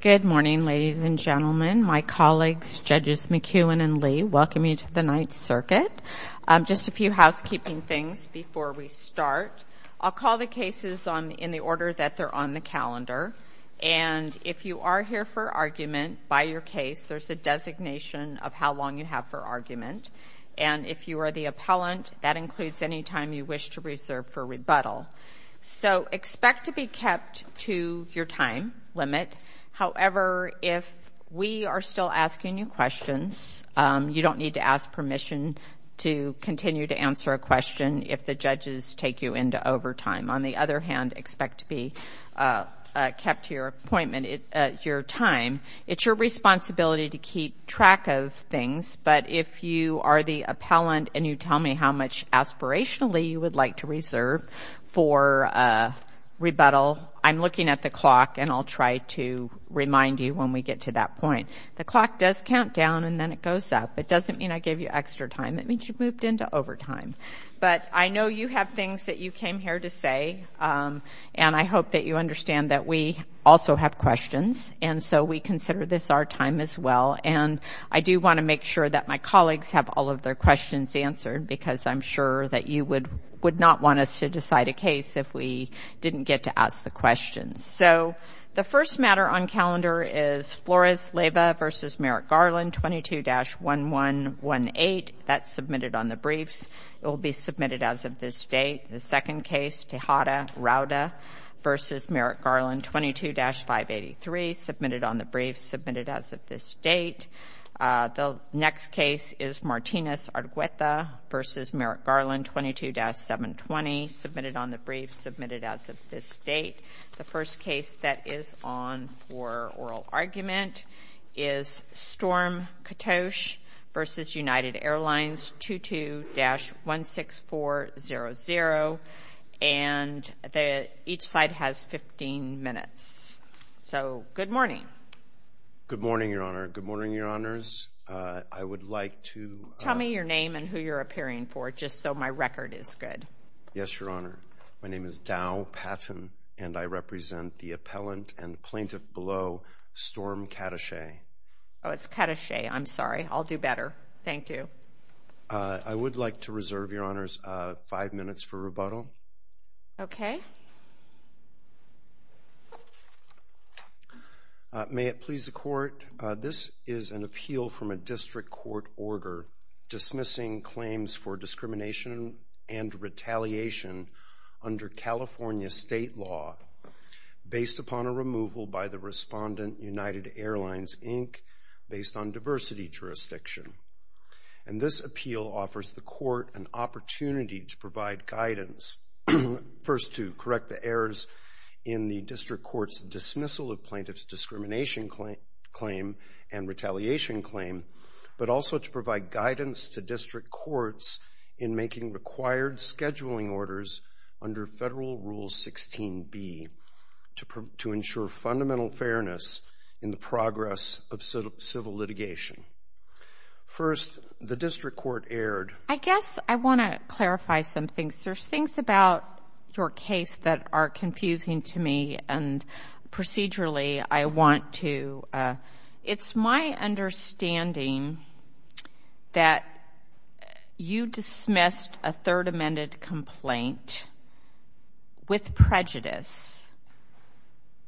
Good morning, ladies and gentlemen, my colleagues, Judges McEwen and Lee, welcome you to the Ninth Circuit. Just a few housekeeping things before we start. I'll call the cases in the order that they're on the calendar, and if you are here for argument by your case, there's a designation of how long you have for argument. And if you are the appellant, that includes any time you wish to reserve for rebuttal. So expect to be kept to your time limit. However, if we are still asking you questions, you don't need to ask permission to continue to answer a question if the judges take you into overtime. On the other hand, expect to be kept to your appointment, your time. It's your responsibility to keep track of things, but if you are the appellant and you are here for rebuttal, I'm looking at the clock and I'll try to remind you when we get to that point. The clock does count down and then it goes up. It doesn't mean I gave you extra time. It means you've moved into overtime. But I know you have things that you came here to say, and I hope that you understand that we also have questions, and so we consider this our time as well, and I do want to make sure that my colleagues have all of their questions answered because I'm sure that you would not want us to decide a case if we didn't get to ask the questions. So the first matter on calendar is Flores-Leyva v. Merrick-Garland, 22-1118. That's submitted on the briefs. It will be submitted as of this date. The second case, Tejada-Rauda v. Merrick-Garland, 22-583, submitted on the briefs, submitted as of this date. The next case is Martinez-Argüeta v. Merrick-Garland, 22-720, submitted on the briefs, submitted as of this date. The first case that is on for oral argument is Storm-Katosh v. United Airlines, 22-16400, and each side has 15 minutes. So good morning. Good morning, Your Honor. Good morning, Your Honors. I would like to... Tell me your name and who you're appearing for, just so my record is good. Yes, Your Honor. My name is Dow Patton, and I represent the appellant and plaintiff below Storm-Katosh. Oh, it's Katosh. I'm sorry. I'll do better. Thank you. I would like to reserve, Your Honors, five minutes for rebuttal. Okay. May it please the Court. This is an appeal from a district court order dismissing claims for discrimination and retaliation under California state law, based upon a removal by the respondent, United Airlines, Inc., based on diversity jurisdiction. And this appeal offers the court an opportunity to provide guidance, first to correct the claim and retaliation claim, but also to provide guidance to district courts in making required scheduling orders under Federal Rule 16b, to ensure fundamental fairness in the progress of civil litigation. First, the district court erred. I guess I want to clarify some things. There's things about your case that are confusing to me, and procedurally, I want to... It's my understanding that you dismissed a third amended complaint with prejudice,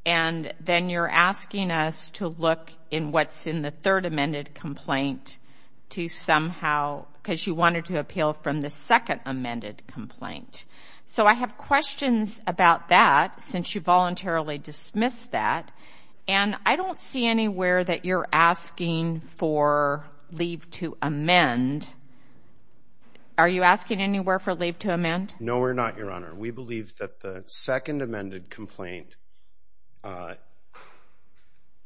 and then you're asking us to look in what's in the third amended complaint to somehow... because you wanted to appeal from the second amended complaint. So I have questions about that, since you voluntarily dismissed that. And I don't see anywhere that you're asking for leave to amend. Are you asking anywhere for leave to amend? No, we're not, Your Honor. We believe that the second amended complaint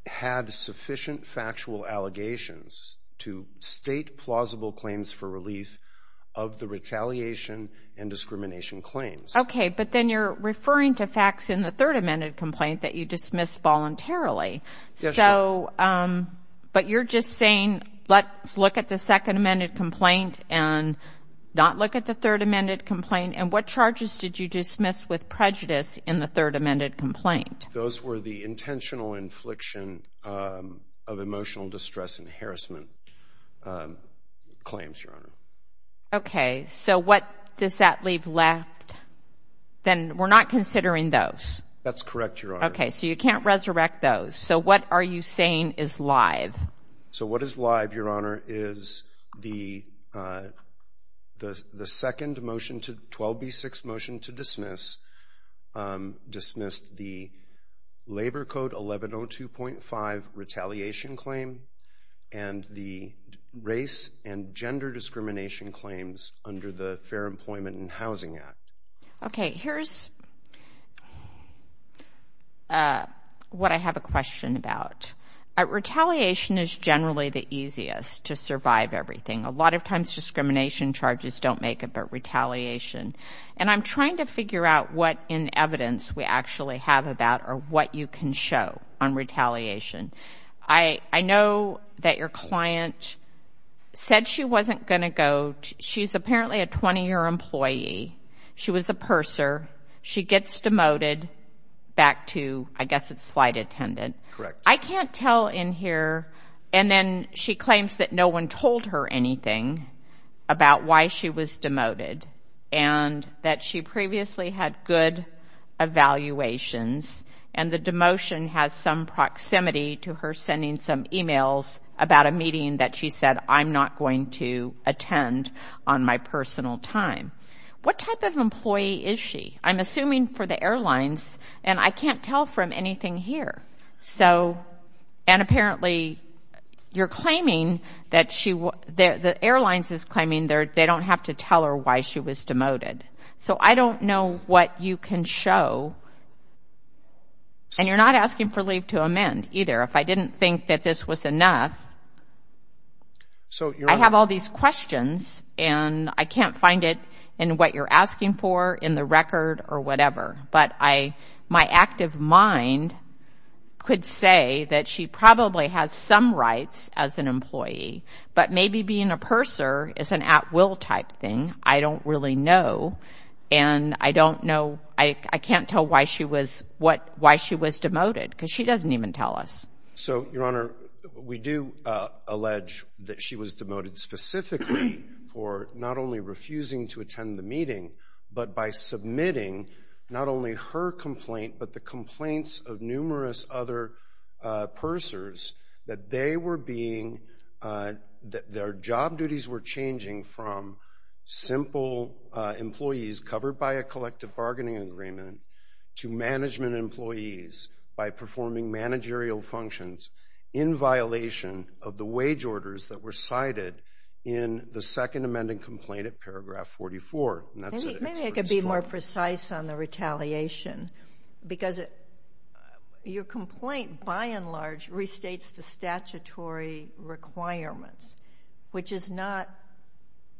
had sufficient factual allegations to state plausible claims for relief of the retaliation and discrimination claims. Okay, but then you're referring to facts in the third amended complaint that you dismissed voluntarily. Yes, Your Honor. But you're just saying, let's look at the second amended complaint and not look at the third amended complaint. And what charges did you dismiss with prejudice in the third amended complaint? Those were the intentional infliction of emotional distress and harassment claims, Your Honor. Okay, so what does that leave left? Then we're not considering those. That's correct, Your Honor. Okay, so you can't resurrect those. So what are you saying is live? So what is live, Your Honor, is the second motion to... 12b6 motion to dismiss, dismissed the Labor Code 1102.5 retaliation claim and the race and gender discrimination claims under the Fair Employment and Housing Act. Okay, here's what I have a question about. Retaliation is generally the easiest to survive everything. A lot of times discrimination charges don't make it, but retaliation. And I'm trying to figure out what in evidence we actually have about or what you can show on retaliation. I know that your client said she wasn't going to go. She's apparently a 20-year employee. She was a purser. She gets demoted back to, I guess it's flight attendant. I can't tell in here, and then she claims that no one told her anything about why she was demoted and that she previously had good evaluations and the demotion has some proximity to her sending some e-mails about a meeting that she said, I'm not going to attend on my personal time. What type of employee is she? I'm assuming for the airlines, and I can't tell from anything here. So, and apparently you're claiming that she, the airlines is claiming they don't have to tell her why she was demoted. So I don't know what you can show, and you're not asking for leave to amend either. If I didn't think that this was enough, I have all these questions and I can't find it in what you're asking for in the record or whatever. But I, my active mind could say that she probably has some rights as an employee, but maybe being a purser is an at-will type thing. I don't really know. And I don't know, I can't tell why she was, why she was demoted because she doesn't even tell us. So, Your Honor, we do allege that she was demoted specifically for not only refusing to attend the meeting, but by submitting not only her complaint, but the complaints of numerous other pursers that they were being, that their job duties were changing from simple employees covered by a collective bargaining agreement to management employees by performing managerial functions in violation of the wage orders that were cited in the second amending complaint at paragraph 44. And that's it. Maybe I could be more precise on the retaliation. Because your complaint, by and large, restates the statutory requirements, which is not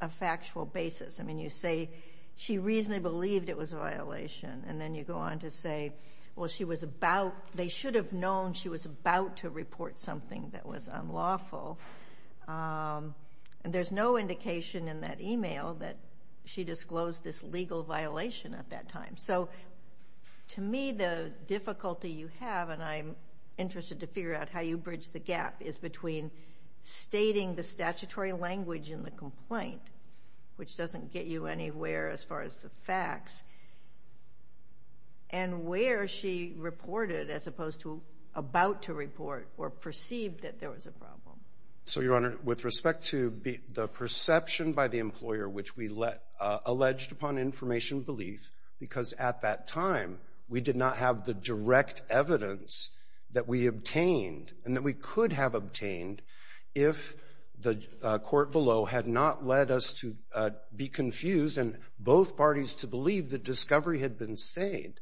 a factual basis. I mean, you say she reasonably believed it was a violation, and then you go on to say, well, she was about, they should have known she was about to report something that was unlawful. And there's no indication in that email that she disclosed this legal violation at that time. So, to me, the difficulty you have, and I'm interested to figure out how you bridge the gap, is between stating the statutory language in the complaint, which doesn't get you anywhere as far as the facts, and where she reported as opposed to about to report or perceived that there was a problem. So your Honor, with respect to the perception by the employer which we alleged upon information belief, because at that time, we did not have the direct evidence that we obtained and that we could have obtained if the court below had not led us to be confused and both parties to believe that discovery had been stayed.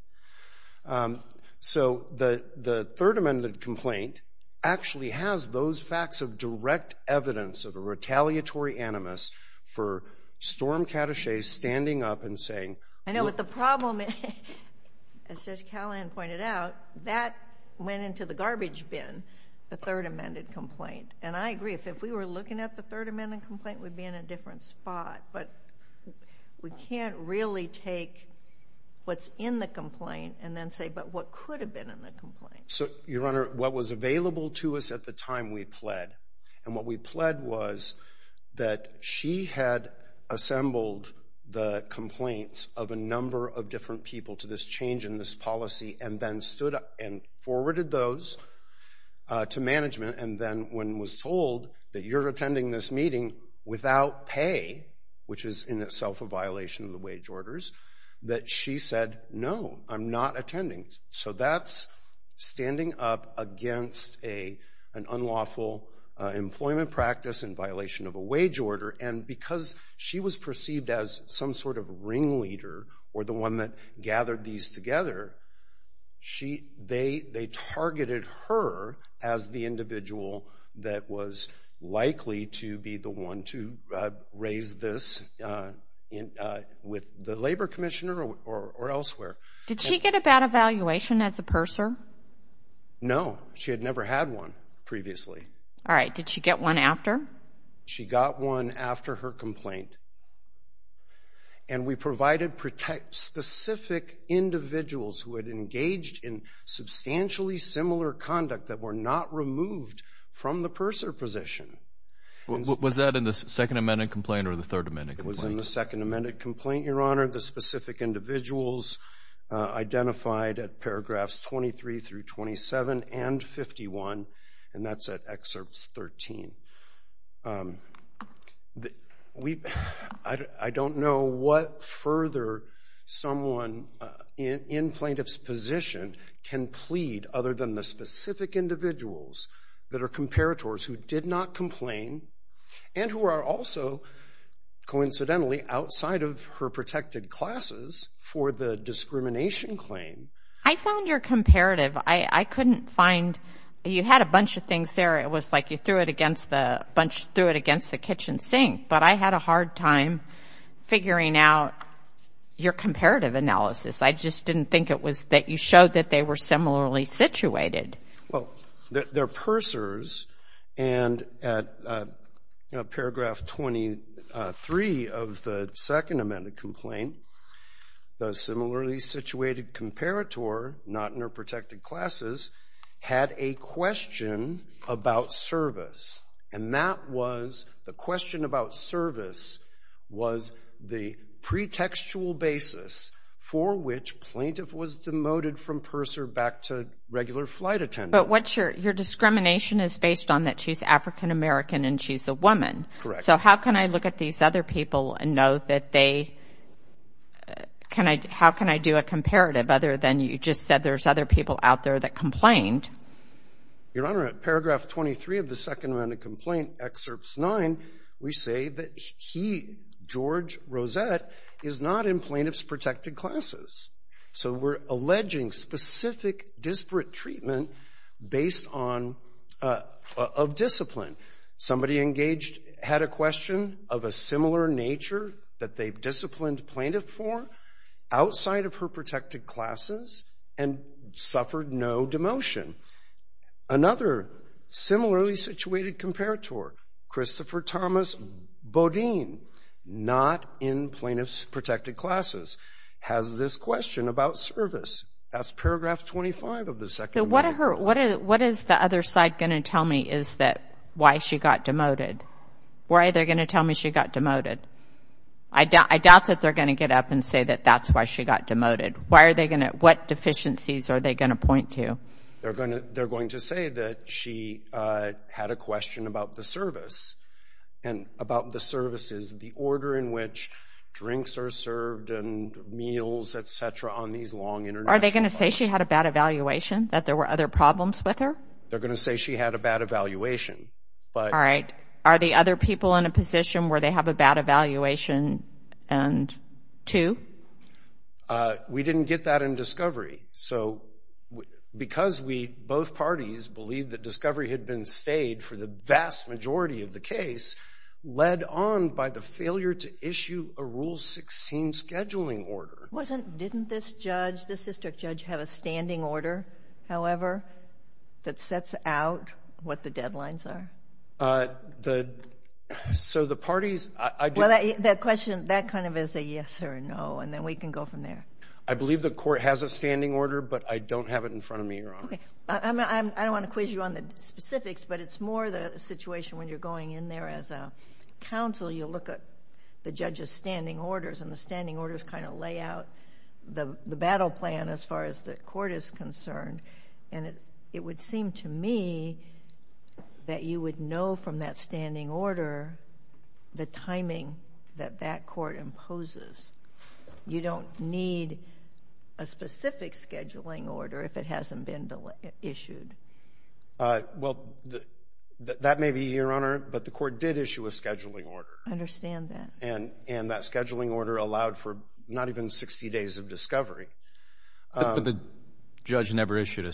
So, the third amended complaint actually has those facts of direct evidence of a retaliatory animus for Storm Cattashay standing up and saying... I know, but the problem, as Judge Callahan pointed out, that went into the garbage bin, the third amended complaint. And I agree, if we were looking at the third amended complaint, we'd be in a different spot, but we can't really take what's in the complaint and then say, but what could have been in the complaint? So your Honor, what was available to us at the time we pled, and what we pled was that she had assembled the complaints of a number of different people to this change in this policy and then stood up and forwarded those to management, and then when was told that you're attending this meeting without pay, which is in itself a violation of the wage orders, that she said, no, I'm not attending. So that's standing up against an unlawful employment practice in violation of a wage order, and because she was perceived as some sort of ringleader or the one that gathered these together, they targeted her as the individual that was likely to be the one to raise this with the labor commissioner or elsewhere. Did she get a bad evaluation as a purser? No. She had never had one previously. All right. Did she get one after? She got one after her complaint, and we provided specific individuals who had engaged in substantially similar conduct that were not removed from the purser position. Was that in the Second Amendment complaint or the Third Amendment complaint? It was in the Second Amendment complaint, Your Honor. The specific individuals identified at paragraphs 23 through 27 and 51, and that's at excerpts 13. I don't know what further someone in plaintiff's position can plead other than the specific individuals that are comparators who did not complain and who are also coincidentally outside of her protected classes for the discrimination claim. I found your comparative. I couldn't find — you had a bunch of things there. It was like you threw it against the kitchen sink, but I had a hard time figuring out your comparative analysis. I just didn't think it was that you showed that they were similarly situated. Well, they're pursers, and at paragraph 23 of the Second Amendment complaint, the similarly situated comparator, not in her protected classes, had a question about service. And that was — the question about service was the pretextual basis for which plaintiff was demoted from purser back to regular flight attendant. But what's your — your discrimination is based on that she's African American and she's a woman. Correct. So how can I look at these other people and know that they — how can I do a comparative other than you just said there's other people out there that complained? Your Honor, at paragraph 23 of the Second Amendment complaint, excerpts 9, we say that he, George Rosette, is not in plaintiff's protected classes. So we're alleging specific disparate treatment based on — of discipline. Somebody engaged — had a question of a similar nature that they disciplined plaintiff for outside of her protected classes and suffered no demotion. Another similarly situated comparator, Christopher Thomas Bodine, not in plaintiff's protected classes, has this question about service. That's paragraph 25 of the Second Amendment. So what are her — what is the other side going to tell me is that — why she got demoted? Why are they going to tell me she got demoted? I doubt that they're going to get up and say that that's why she got demoted. Why are they going to — what deficiencies are they going to point to? They're going to — they're going to say that she had a question about the service. And about the services, the order in which drinks are served and meals, et cetera, on these long international flights. Are they going to say she had a bad evaluation, that there were other problems with her? They're going to say she had a bad evaluation, but — All right. Are the other people in a position where they have a bad evaluation and — two? We didn't get that in discovery. So because we — both parties believe that discovery had been stayed for the vast majority of the case, led on by the failure to issue a Rule 16 scheduling order. Wasn't — didn't this judge, this district judge, have a standing order, however, that sets out what the deadlines are? So the parties — Well, that question, that kind of is a yes or a no, and then we can go from there. I believe the court has a standing order, but I don't have it in front of me, Your Honor. Okay. I don't want to quiz you on the specifics, but it's more the situation when you're going in there as a counsel, you look at the judge's standing orders, and the standing orders kind of lay out the battle plan as far as the court is concerned, and it would seem to me that you would know from that standing order the timing that that court imposes. You don't need a specific scheduling order if it hasn't been issued. Well, that may be, Your Honor, but the court did issue a scheduling order. I understand that. And that scheduling order allowed for not even 60 days of discovery. But the judge never issued a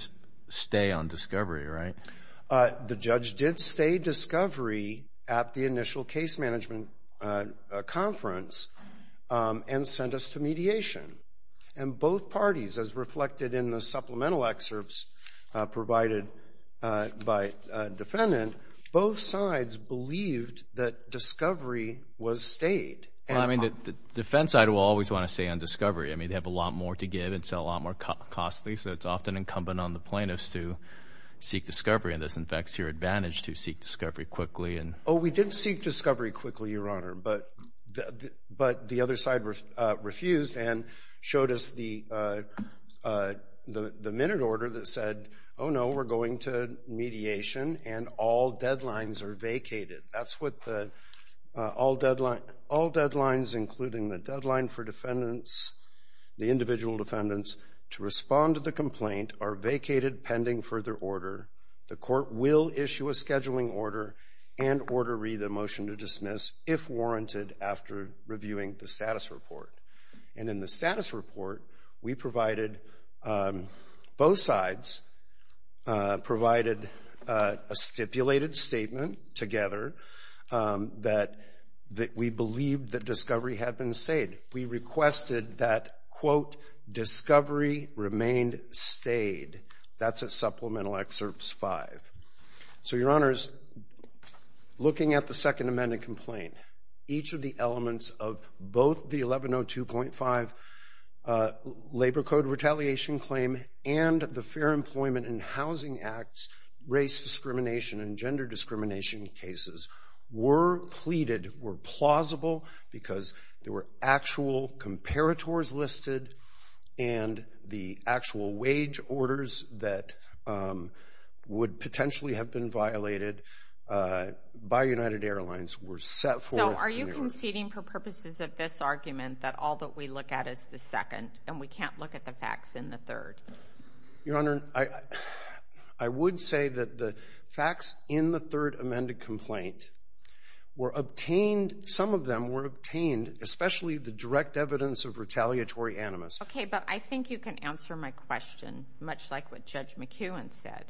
stay on discovery, right? The judge did stay discovery at the initial case management conference and sent us to mediation. And both parties, as reflected in the supplemental excerpts provided by defendant, both sides believed that discovery was stayed. Well, I mean, the defense side will always want to stay on discovery. I mean, they have a lot more to give and sell, a lot more costly, so it's often incumbent on the plaintiffs to seek discovery, and this infects your advantage to seek discovery quickly. Oh, we did seek discovery quickly, Your Honor, but the other side refused and showed us the minute order that said, oh, no, we're going to mediation, and all deadlines are vacated. That's what the all deadlines, including the deadline for defendants, the individual defendants to respond to the complaint are vacated pending further order. The court will issue a scheduling order and order read the motion to dismiss if warranted after reviewing the status report. And in the status report, we provided, both sides provided a stipulated statement together that we believed that discovery had been stayed. We requested that, quote, discovery remained stayed. That's a supplemental excerpts five. So Your Honors, looking at the Second Amendment complaint, each of the elements of both the 1102.5 labor code retaliation claim and the Fair Employment and Housing Act's race discrimination and gender discrimination cases were pleaded were plausible because there were actual comparators listed and the actual wage orders that would potentially have been violated by United Airlines were set for. So are you conceding for purposes of this argument that all that we look at is the second and we can't look at the facts in the third? Your Honor, I would say that the facts in the third amended complaint were obtained. Some of them were obtained, especially the direct evidence of retaliatory animus. OK, but I think you can answer my question much like what Judge McEwen said.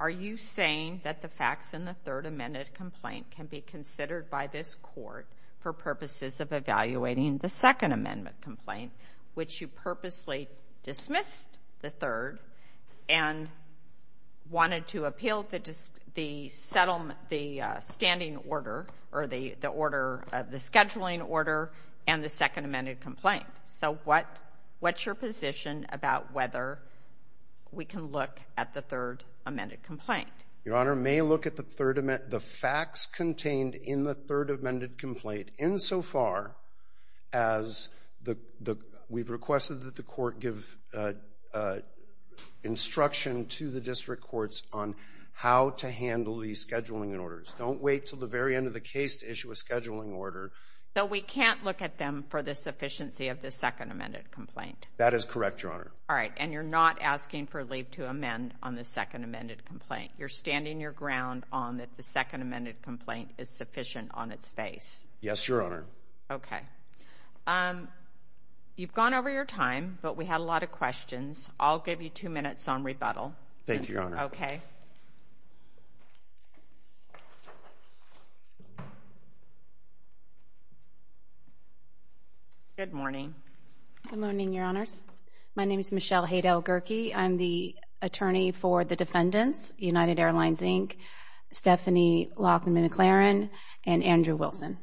Are you saying that the facts in the third amended complaint can be considered by this court for purposes of evaluating the Second Amendment complaint, which you purposely dismissed the third and wanted to appeal the settlement, the standing order or the order of the scheduling order and the second amended complaint? So what what's your position about whether we can look at the third amended complaint? Your Honor may look at the third. The facts contained in the third amended complaint insofar as the we've requested that the court give instruction to the district courts on how to handle the scheduling and orders. Don't wait till the very end of the case to issue a scheduling order, though we can't look at them for the sufficiency of the second amended complaint. That is correct, Your Honor. All right. And you're not asking for leave to amend on the second amended complaint. You're standing your ground on that. The second amended complaint is sufficient on its face. Yes, Your Honor. OK. You've gone over your time, but we had a lot of questions. I'll give you two minutes on rebuttal. Thank you, Your Honor. OK. Good morning. Good morning, Your Honors. My name is Michelle Heidel-Gurkey. I'm the attorney for the defendants, United Airlines, Inc., Stephanie Lockman McLaren and Andrew Wilson.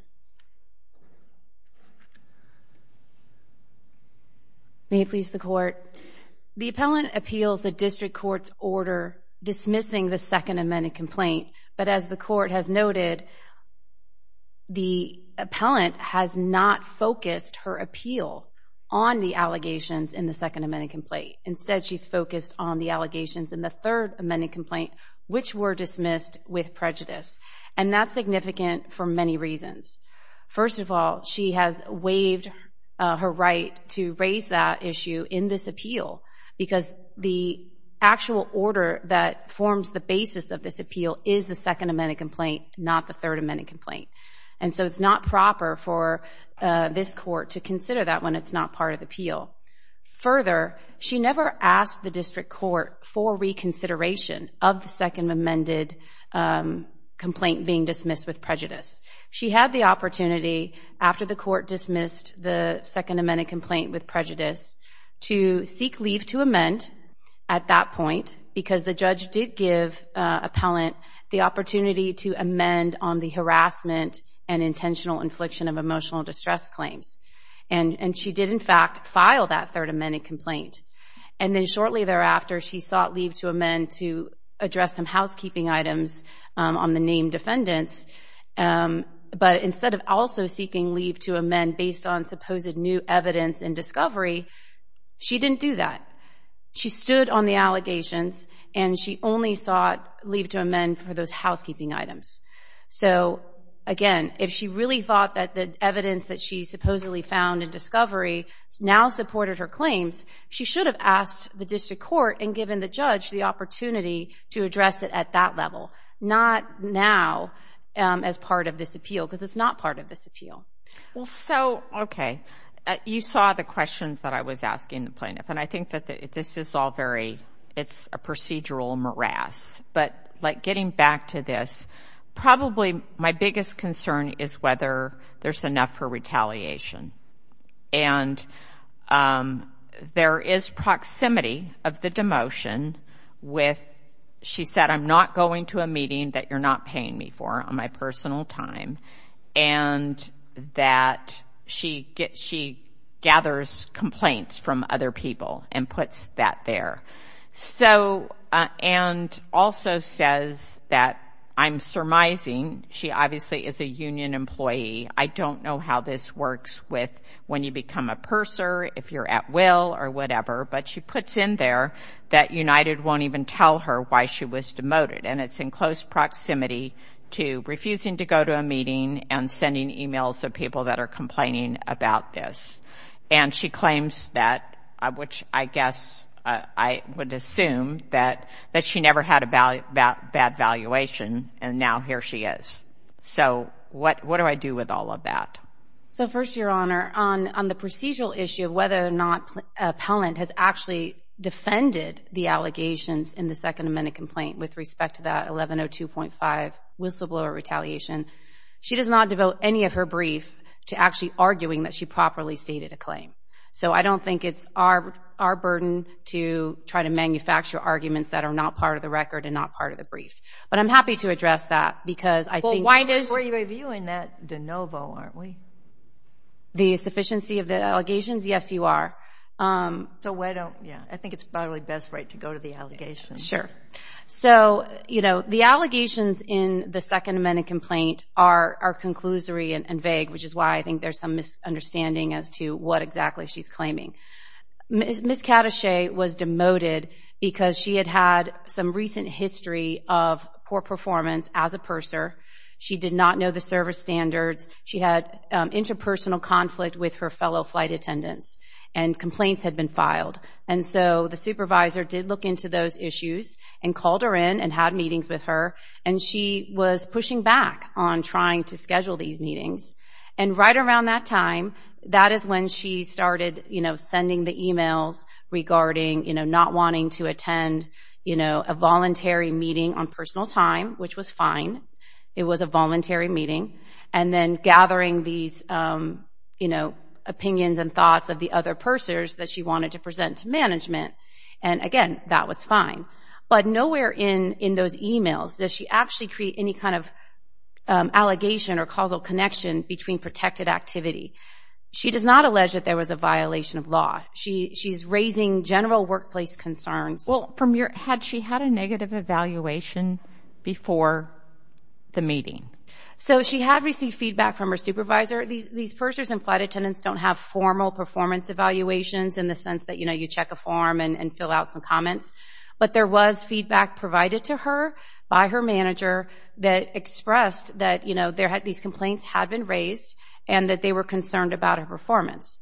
May it please the court. The appellant appeals the district court's order dismissing the second amended complaint, but as the court has noted, the appellant has not focused her appeal on the allegations in the second amended complaint. Instead, she's focused on the allegations in the third amended complaint, which were dismissed with prejudice. And that's significant for many reasons. First of all, she has waived her right to raise that issue in this appeal because the actual order that forms the basis of this appeal is the second amended complaint, not the third amended complaint. And so it's not proper for this court to consider that when it's not part of the appeal. Further, she never asked the district court for reconsideration of the second amended complaint being dismissed with prejudice. She had the opportunity, after the court dismissed the second amended complaint with prejudice, to seek leave to amend at that point because the judge did give the appellant the opportunity to amend on the harassment and intentional infliction of emotional distress claims. And she did, in fact, file that third amended complaint. And then shortly thereafter, she sought leave to amend to address some housekeeping items on the named defendants. But instead of also seeking leave to amend based on supposed new evidence and discovery, she didn't do that. She stood on the allegations, and she only sought leave to amend for those housekeeping items. So again, if she really thought that the evidence that she supposedly found in discovery now supported her claims, she should have asked the district court and given the judge the opportunity to address it at that level, not now as part of this appeal because it's not part of this appeal. Well, so, okay. You saw the questions that I was asking the plaintiff. And I think that this is all very, it's a procedural morass. But like getting back to this, probably my biggest concern is whether there's enough for retaliation. And there is proximity of the demotion with, she said, I'm not going to a meeting that you're not paying me for on my personal time, and that she gathers complaints from other people and puts that there. So, and also says that I'm surmising, she obviously is a union employee. I don't know how this works with when you become a purser, if you're at will or whatever, but she puts in there that United won't even tell her why she was demoted. And it's in close proximity to refusing to go to a meeting and sending emails to people that are complaining about this. And she claims that, which I guess I would assume that she never had a bad valuation, and now here she is. So what do I do with all of that? So first, Your Honor, on the procedural issue of whether or not an appellant has actually defended the allegations in the Second Amendment complaint with respect to that 1102.5 whistleblower retaliation, she does not devote any of her brief to actually arguing that she properly stated a claim. So I don't think it's our burden to try to manufacture arguments that are not part of the record and not part of the brief. But I'm happy to address that, because I think... Well, why does... We're reviewing that de novo, aren't we? The sufficiency of the allegations, yes, you are. So why don't... Yeah, I think it's probably best, right, to go to the allegations. Sure. So, you know, the allegations in the Second Amendment complaint are conclusory and vague, which is why I think there's some misunderstanding as to what exactly she's claiming. Ms. Cadachet was demoted because she had had some recent history of poor performance as a purser. She did not know the service standards. She had interpersonal conflict with her fellow flight attendants, and complaints had been filed. And so the supervisor did look into those issues and called her in and had meetings with her. And she was pushing back on trying to schedule these meetings. And right around that time, that is when she started sending the emails regarding not wanting to attend a voluntary meeting on personal time, which was fine. It was a voluntary meeting. And then gathering these opinions and thoughts of the other pursers that she wanted to present to management. And again, that was fine. But nowhere in those emails does she actually create any kind of allegation or causal connection between protected activity. She does not allege that there was a violation of law. She's raising general workplace concerns. Well, had she had a negative evaluation before the meeting? So she had received feedback from her supervisor. These pursers and flight attendants don't have formal performance evaluations in the But there was feedback provided to her by her manager that expressed that these complaints had been raised, and that they were concerned about her performance.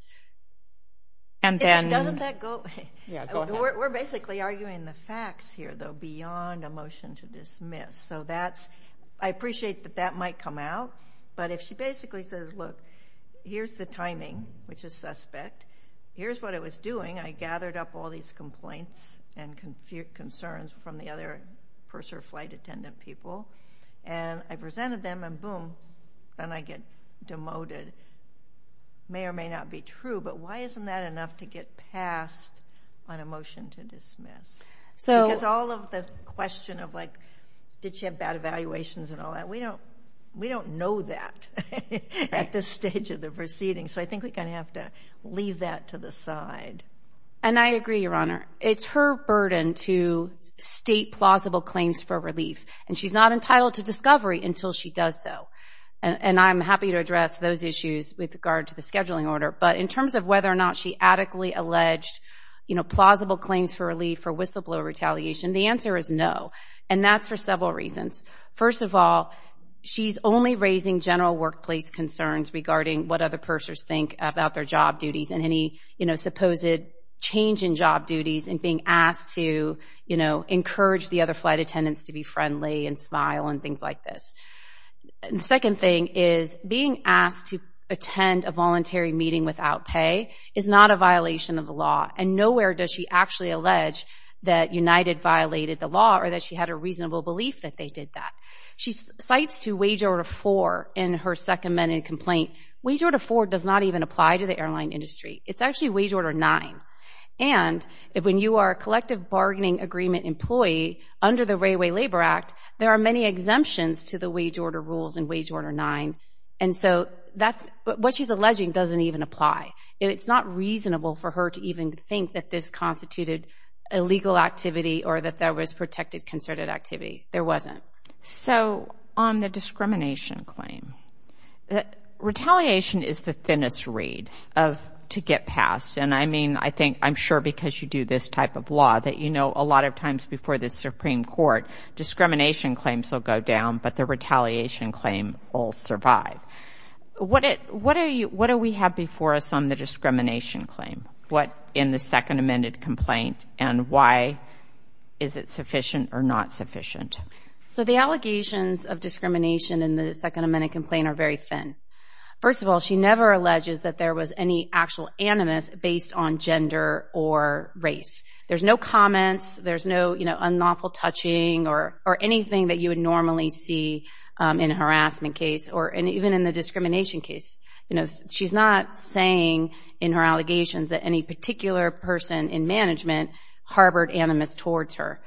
And then... Doesn't that go... Yeah, go ahead. We're basically arguing the facts here, though, beyond a motion to dismiss. So that's... I appreciate that that might come out. But if she basically says, look, here's the timing, which is suspect. Here's what it was doing. I gathered up all these complaints and concerns from the other purser or flight attendant people, and I presented them, and boom, then I get demoted. May or may not be true, but why isn't that enough to get passed on a motion to dismiss? Because all of the question of like, did she have bad evaluations and all that, we don't know that at this stage of the proceeding. So I think we're going to have to leave that to the side. And I agree, Your Honor. It's her burden to state plausible claims for relief. And she's not entitled to discovery until she does so. And I'm happy to address those issues with regard to the scheduling order. But in terms of whether or not she adequately alleged plausible claims for relief or whistleblower retaliation, the answer is no. And that's for several reasons. First of all, she's only raising general workplace concerns regarding what other pursers think about their job duties and any, you know, supposed change in job duties and being asked to, you know, encourage the other flight attendants to be friendly and smile and things like this. And the second thing is being asked to attend a voluntary meeting without pay is not a violation of the law. And nowhere does she actually allege that United violated the law or that she had a reasonable belief that they did that. She cites to Wage Order 4 in her second amended complaint. Wage Order 4 does not even apply to the airline industry. It's actually Wage Order 9. And when you are a collective bargaining agreement employee under the Railway Labor Act, there are many exemptions to the wage order rules in Wage Order 9. And so that's what she's alleging doesn't even apply. It's not reasonable for her to even think that this constituted illegal activity or that there was protected concerted activity. There wasn't. So on the discrimination claim, retaliation is the thinnest reed to get passed. And I mean, I think I'm sure because you do this type of law that, you know, a lot of times before the Supreme Court, discrimination claims will go down, but the retaliation claim will survive. What do we have before us on the discrimination claim? What in the second amended complaint and why is it sufficient or not sufficient? So the allegations of discrimination in the second amended complaint are very thin. First of all, she never alleges that there was any actual animus based on gender or race. There's no comments. There's no, you know, unlawful touching or anything that you would normally see in a harassment case or even in the discrimination case. You know, she's not saying in her allegations that any particular person in management harbored animus towards her.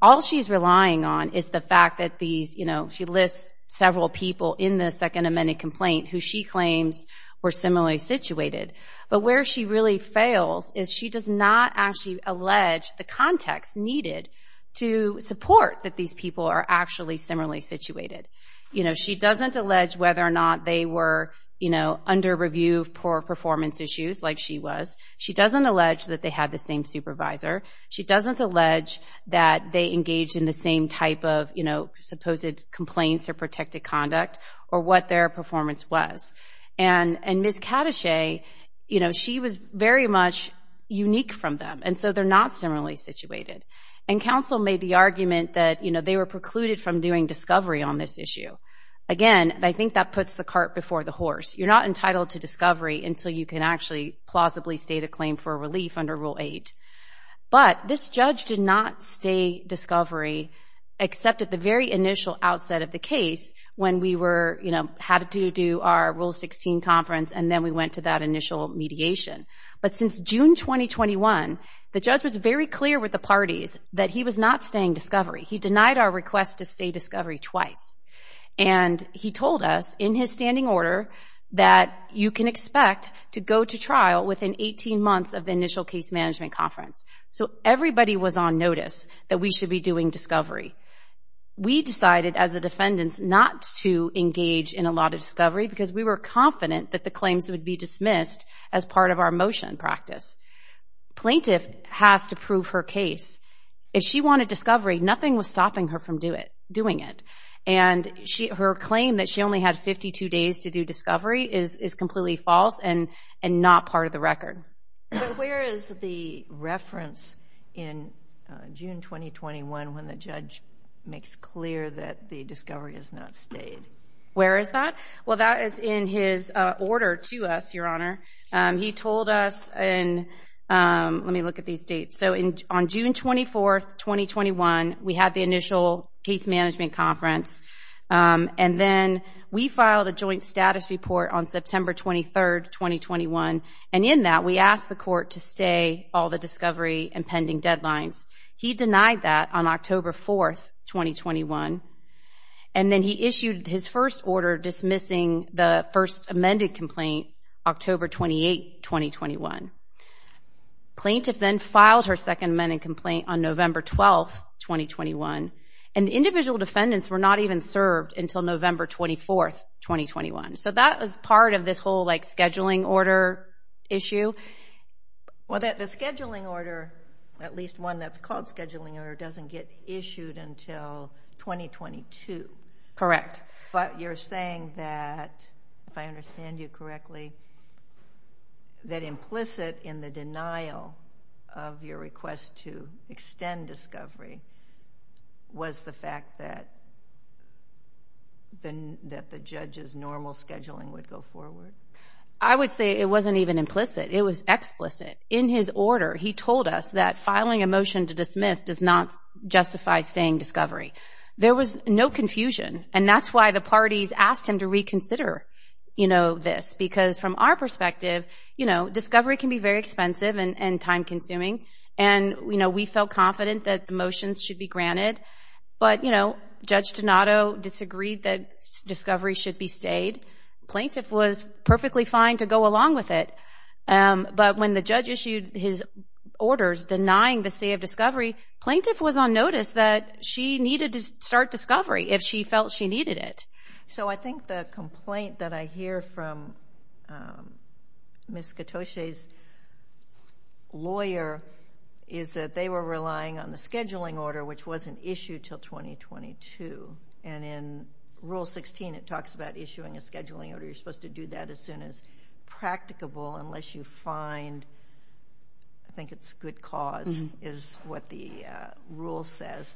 All she's relying on is the fact that these, you know, she lists several people in the second amended complaint who she claims were similarly situated. But where she really fails is she does not actually allege the context needed to support that these people are actually similarly situated. You know, she doesn't allege whether or not they were, you know, under review of poor performance issues like she was. She doesn't allege that they had the same supervisor. She doesn't allege that they engaged in the same type of, you know, supposed complaints or protected conduct or what their performance was. And Ms. Cadachet, you know, she was very much unique from them. And so they're not similarly situated. And counsel made the argument that, you know, they were precluded from doing discovery on this issue. Again, I think that puts the cart before the horse. You're not entitled to discovery until you can actually plausibly state a claim for relief under Rule 8. But this judge did not stay discovery except at the very initial outset of the case when we were, you know, had to do our Rule 16 conference and then we went to that initial mediation. But since June 2021, the judge was very clear with the parties that he was not staying discovery. He denied our request to stay discovery twice. And he told us in his standing order that you can expect to go to trial within 18 months of the initial case management conference. So everybody was on notice that we should be doing discovery. We decided as the defendants not to engage in a lot of discovery because we were confident that the claims would be dismissed as part of our motion practice. Plaintiff has to prove her case. If she wanted discovery, nothing was stopping her from doing it. And her claim that she only had 52 days to do discovery is completely false and not part of the record. But where is the reference in June 2021 when the judge makes clear that the discovery has not stayed? Where is that? Well, that is in his order to us, Your Honor. He told us in, let me look at these dates. So on June 24th, 2021, we had the initial case management conference. And then we filed a joint status report on September 23rd, 2021. And in that, we asked the court to stay all the discovery and pending deadlines. He denied that on October 4th, 2021. And then he issued his first order dismissing the first amended complaint, October 28, 2021. Plaintiff then filed her second amended complaint on November 12th, 2021. And the individual defendants were not even served until November 24th, 2021. So that was part of this whole, like, scheduling order issue. Well, the scheduling order, at least one that's called scheduling order, doesn't get issued until 2022. Correct. But you're saying that, if I understand you correctly, that implicit in the denial of your request to extend discovery was the fact that the judge's normal scheduling would go forward? I would say it wasn't even implicit. It was explicit. In his order, he told us that filing a motion to dismiss does not justify staying discovery. There was no confusion. And that's why the parties asked him to reconsider, you know, this. Because from our perspective, you know, discovery can be very expensive and time-consuming. And you know, we felt confident that the motions should be granted. But you know, Judge Donato disagreed that discovery should be stayed. Plaintiff was perfectly fine to go along with it. But when the judge issued his orders denying the stay of discovery, plaintiff was on notice that she needed to start discovery if she felt she needed it. So I think the complaint that I hear from Ms. Katoche's lawyer is that they were relying on the scheduling order, which wasn't issued until 2022. And in Rule 16, it talks about issuing a scheduling order. You're supposed to do that as soon as practicable, unless you find, I think it's good cause is what the rule says.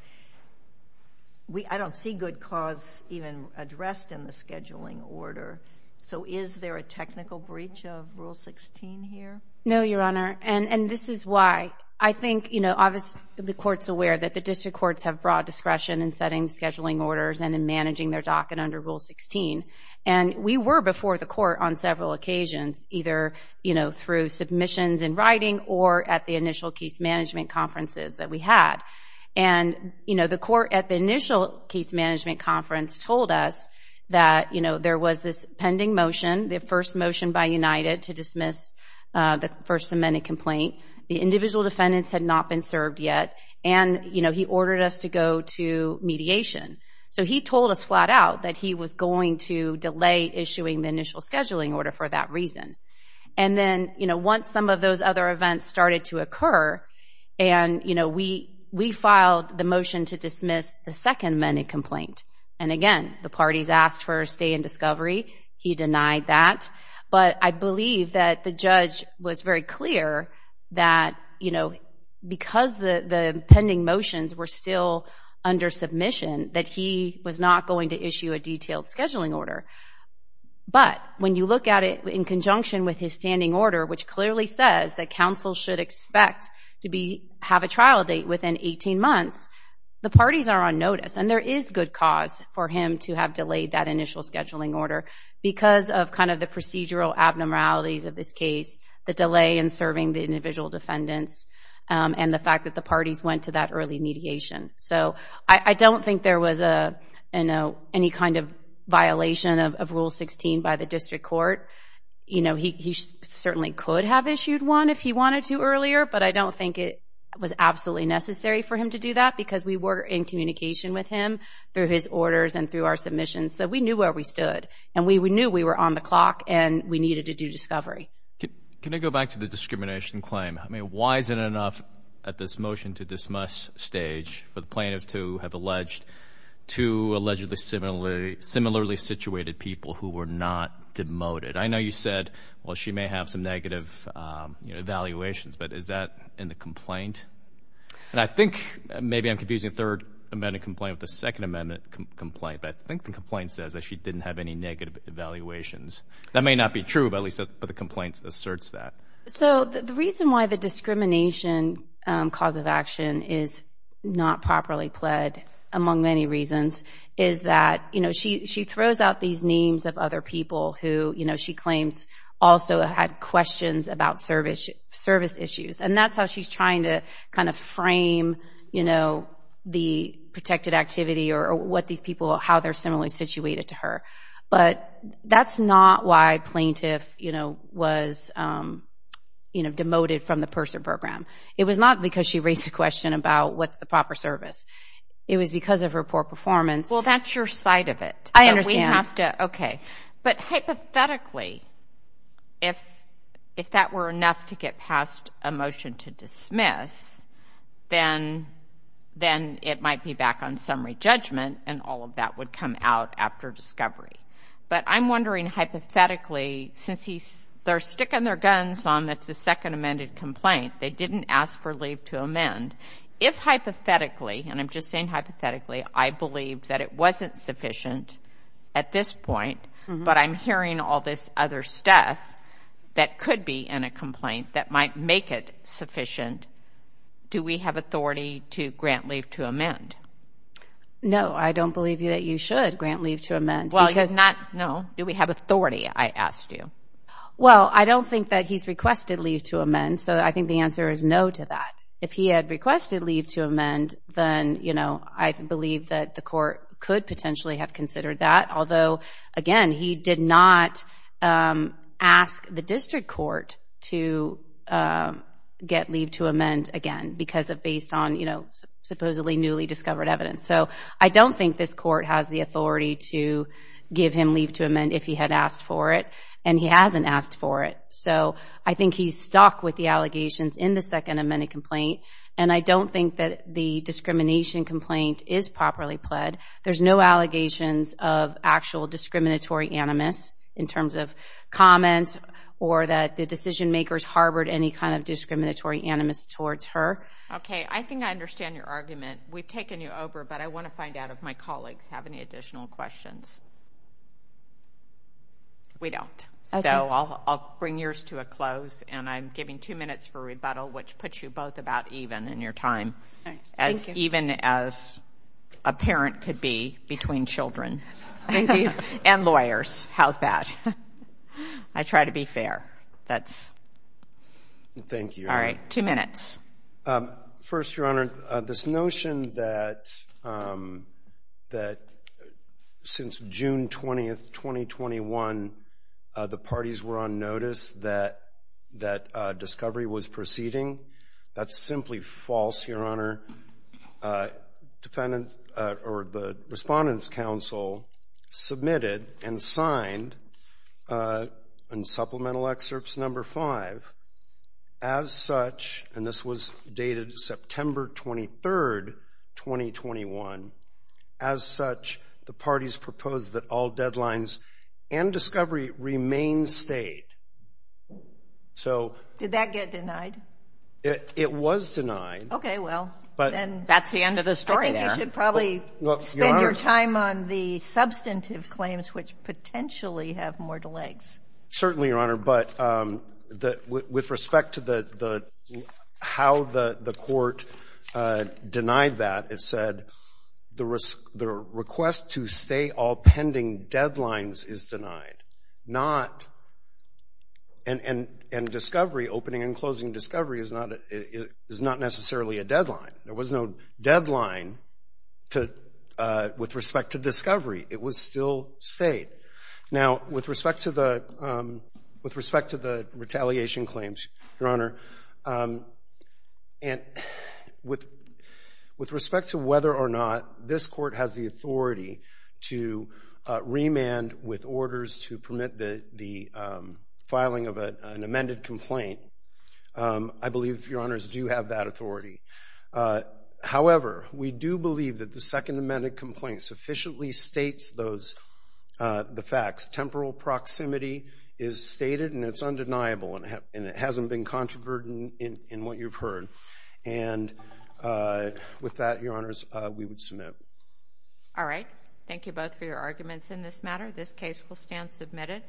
I don't see good cause even addressed in the scheduling order. So is there a technical breach of Rule 16 here? No, Your Honor. And this is why. I think, you know, obviously the court's aware that the district courts have broad discretion in setting scheduling orders and in managing their docket under Rule 16. And we were before the court on several occasions, either, you know, through submissions in writing or at the initial case management conferences that we had. And you know, the court at the initial case management conference told us that, you know, there was this pending motion, the first motion by United to dismiss the First Amendment complaint. The individual defendants had not been served yet. And you know, he ordered us to go to mediation. So he told us flat out that he was going to delay issuing the initial scheduling order for that reason. And then, you know, once some of those other events started to occur and, you know, we filed the motion to dismiss the Second Amendment complaint. And again, the parties asked for a stay in discovery. He denied that. But I believe that the judge was very clear that, you know, because the pending motions were still under submission, that he was not going to issue a detailed scheduling order. But when you look at it in conjunction with his standing order, which clearly says that counsel should expect to have a trial date within 18 months, the parties are on notice. And there is good cause for him to have delayed that initial scheduling order because of kind of the procedural abnormalities of this case, the delay in serving the individual defendants, and the fact that the parties went to that early mediation. So I don't think there was a, you know, any kind of violation of Rule 16 by the district court. You know, he certainly could have issued one if he wanted to earlier, but I don't think it was absolutely necessary for him to do that because we were in communication with him through his orders and through our submissions. So we knew where we stood. And we knew we were on the clock and we needed to do discovery. Can I go back to the discrimination claim? I mean, why is it enough at this motion to dismiss stage for the plaintiff to have alleged two allegedly similarly situated people who were not demoted? I know you said, well, she may have some negative evaluations, but is that in the complaint? And I think, maybe I'm confusing the Third Amendment complaint with the Second Amendment complaint, but I think the complaint says that she didn't have any negative evaluations. That may not be true, but at least the complaint asserts that. So the reason why the discrimination cause of action is not properly pled, among many reasons, is that, you know, she throws out these names of other people who, you know, she claims also had questions about service issues. And that's how she's trying to kind of frame, you know, the protected activity or what these people, how they're similarly situated to her. But that's not why plaintiff, you know, was, you know, demoted from the PERSA program. It was not because she raised a question about what's the proper service. It was because of her poor performance. Well, that's your side of it. I understand. We have to, okay. But hypothetically, if that were enough to get past a motion to dismiss, then it might be back on summary judgment, and all of that would come out after discovery. But I'm wondering, hypothetically, since he's, they're sticking their guns on that's a second amended complaint, they didn't ask for leave to amend. If hypothetically, and I'm just saying hypothetically, I believe that it wasn't sufficient at this point, but I'm hearing all this other stuff that could be in a complaint that might make it sufficient. Do we have authority to grant leave to amend? No, I don't believe that you should grant leave to amend. Well, you're not, no. Do we have authority, I asked you? Well, I don't think that he's requested leave to amend. So I think the answer is no to that. If he had requested leave to amend, then, you know, I believe that the court could potentially have considered that. Although, again, he did not ask the district court to get leave to amend again because of based on, you know, supposedly newly discovered evidence. So I don't think this court has the authority to give him leave to amend if he had asked for it, and he hasn't asked for it. So I think he's stuck with the allegations in the second amended complaint, and I don't think that the discrimination complaint is properly pled. There's no allegations of actual discriminatory animus in terms of comments or that the decision makers harbored any kind of discriminatory animus towards her. Okay, I think I understand your argument. We've taken you over, but I want to find out if my colleagues have any additional questions. We don't. So I'll bring yours to a close, and I'm giving two minutes for rebuttal, which puts you both about even in your time. Thank you. As even as a parent could be between children and lawyers. How's that? I try to be fair. That's... Thank you. All right. Two minutes. First, Your Honor, this notion that since June 20th, 2021, the parties were on notice that discovery was proceeding, that's simply false, Your Honor. The Respondents' Council submitted and signed, in supplemental excerpts number five, as such, and this was dated September 23rd, 2021, as such, the parties proposed that all deadlines and discovery remain state. So... Did that get denied? It was denied. Okay, well, then... That's the end of the story there. I think you should probably spend your time on the substantive claims, which potentially have more delays. Certainly, Your Honor, but with respect to how the court denied that, it said, the request to stay all pending deadlines is denied, not... And discovery, opening and closing discovery, is not necessarily a deadline. There was no deadline with respect to discovery. It was still state. Now, with respect to the retaliation claims, Your Honor, with respect to whether or not this court has the authority to remand with orders to permit the filing of an amended complaint, I believe, Your Honors, do have that authority. However, we do believe that the second amended complaint sufficiently states those... The facts. Temporal proximity is stated and it's undeniable, and it hasn't been controversial in what you've heard. And with that, Your Honors, we would submit. All right. Thank you both for your arguments in this matter. This case will stand submitted.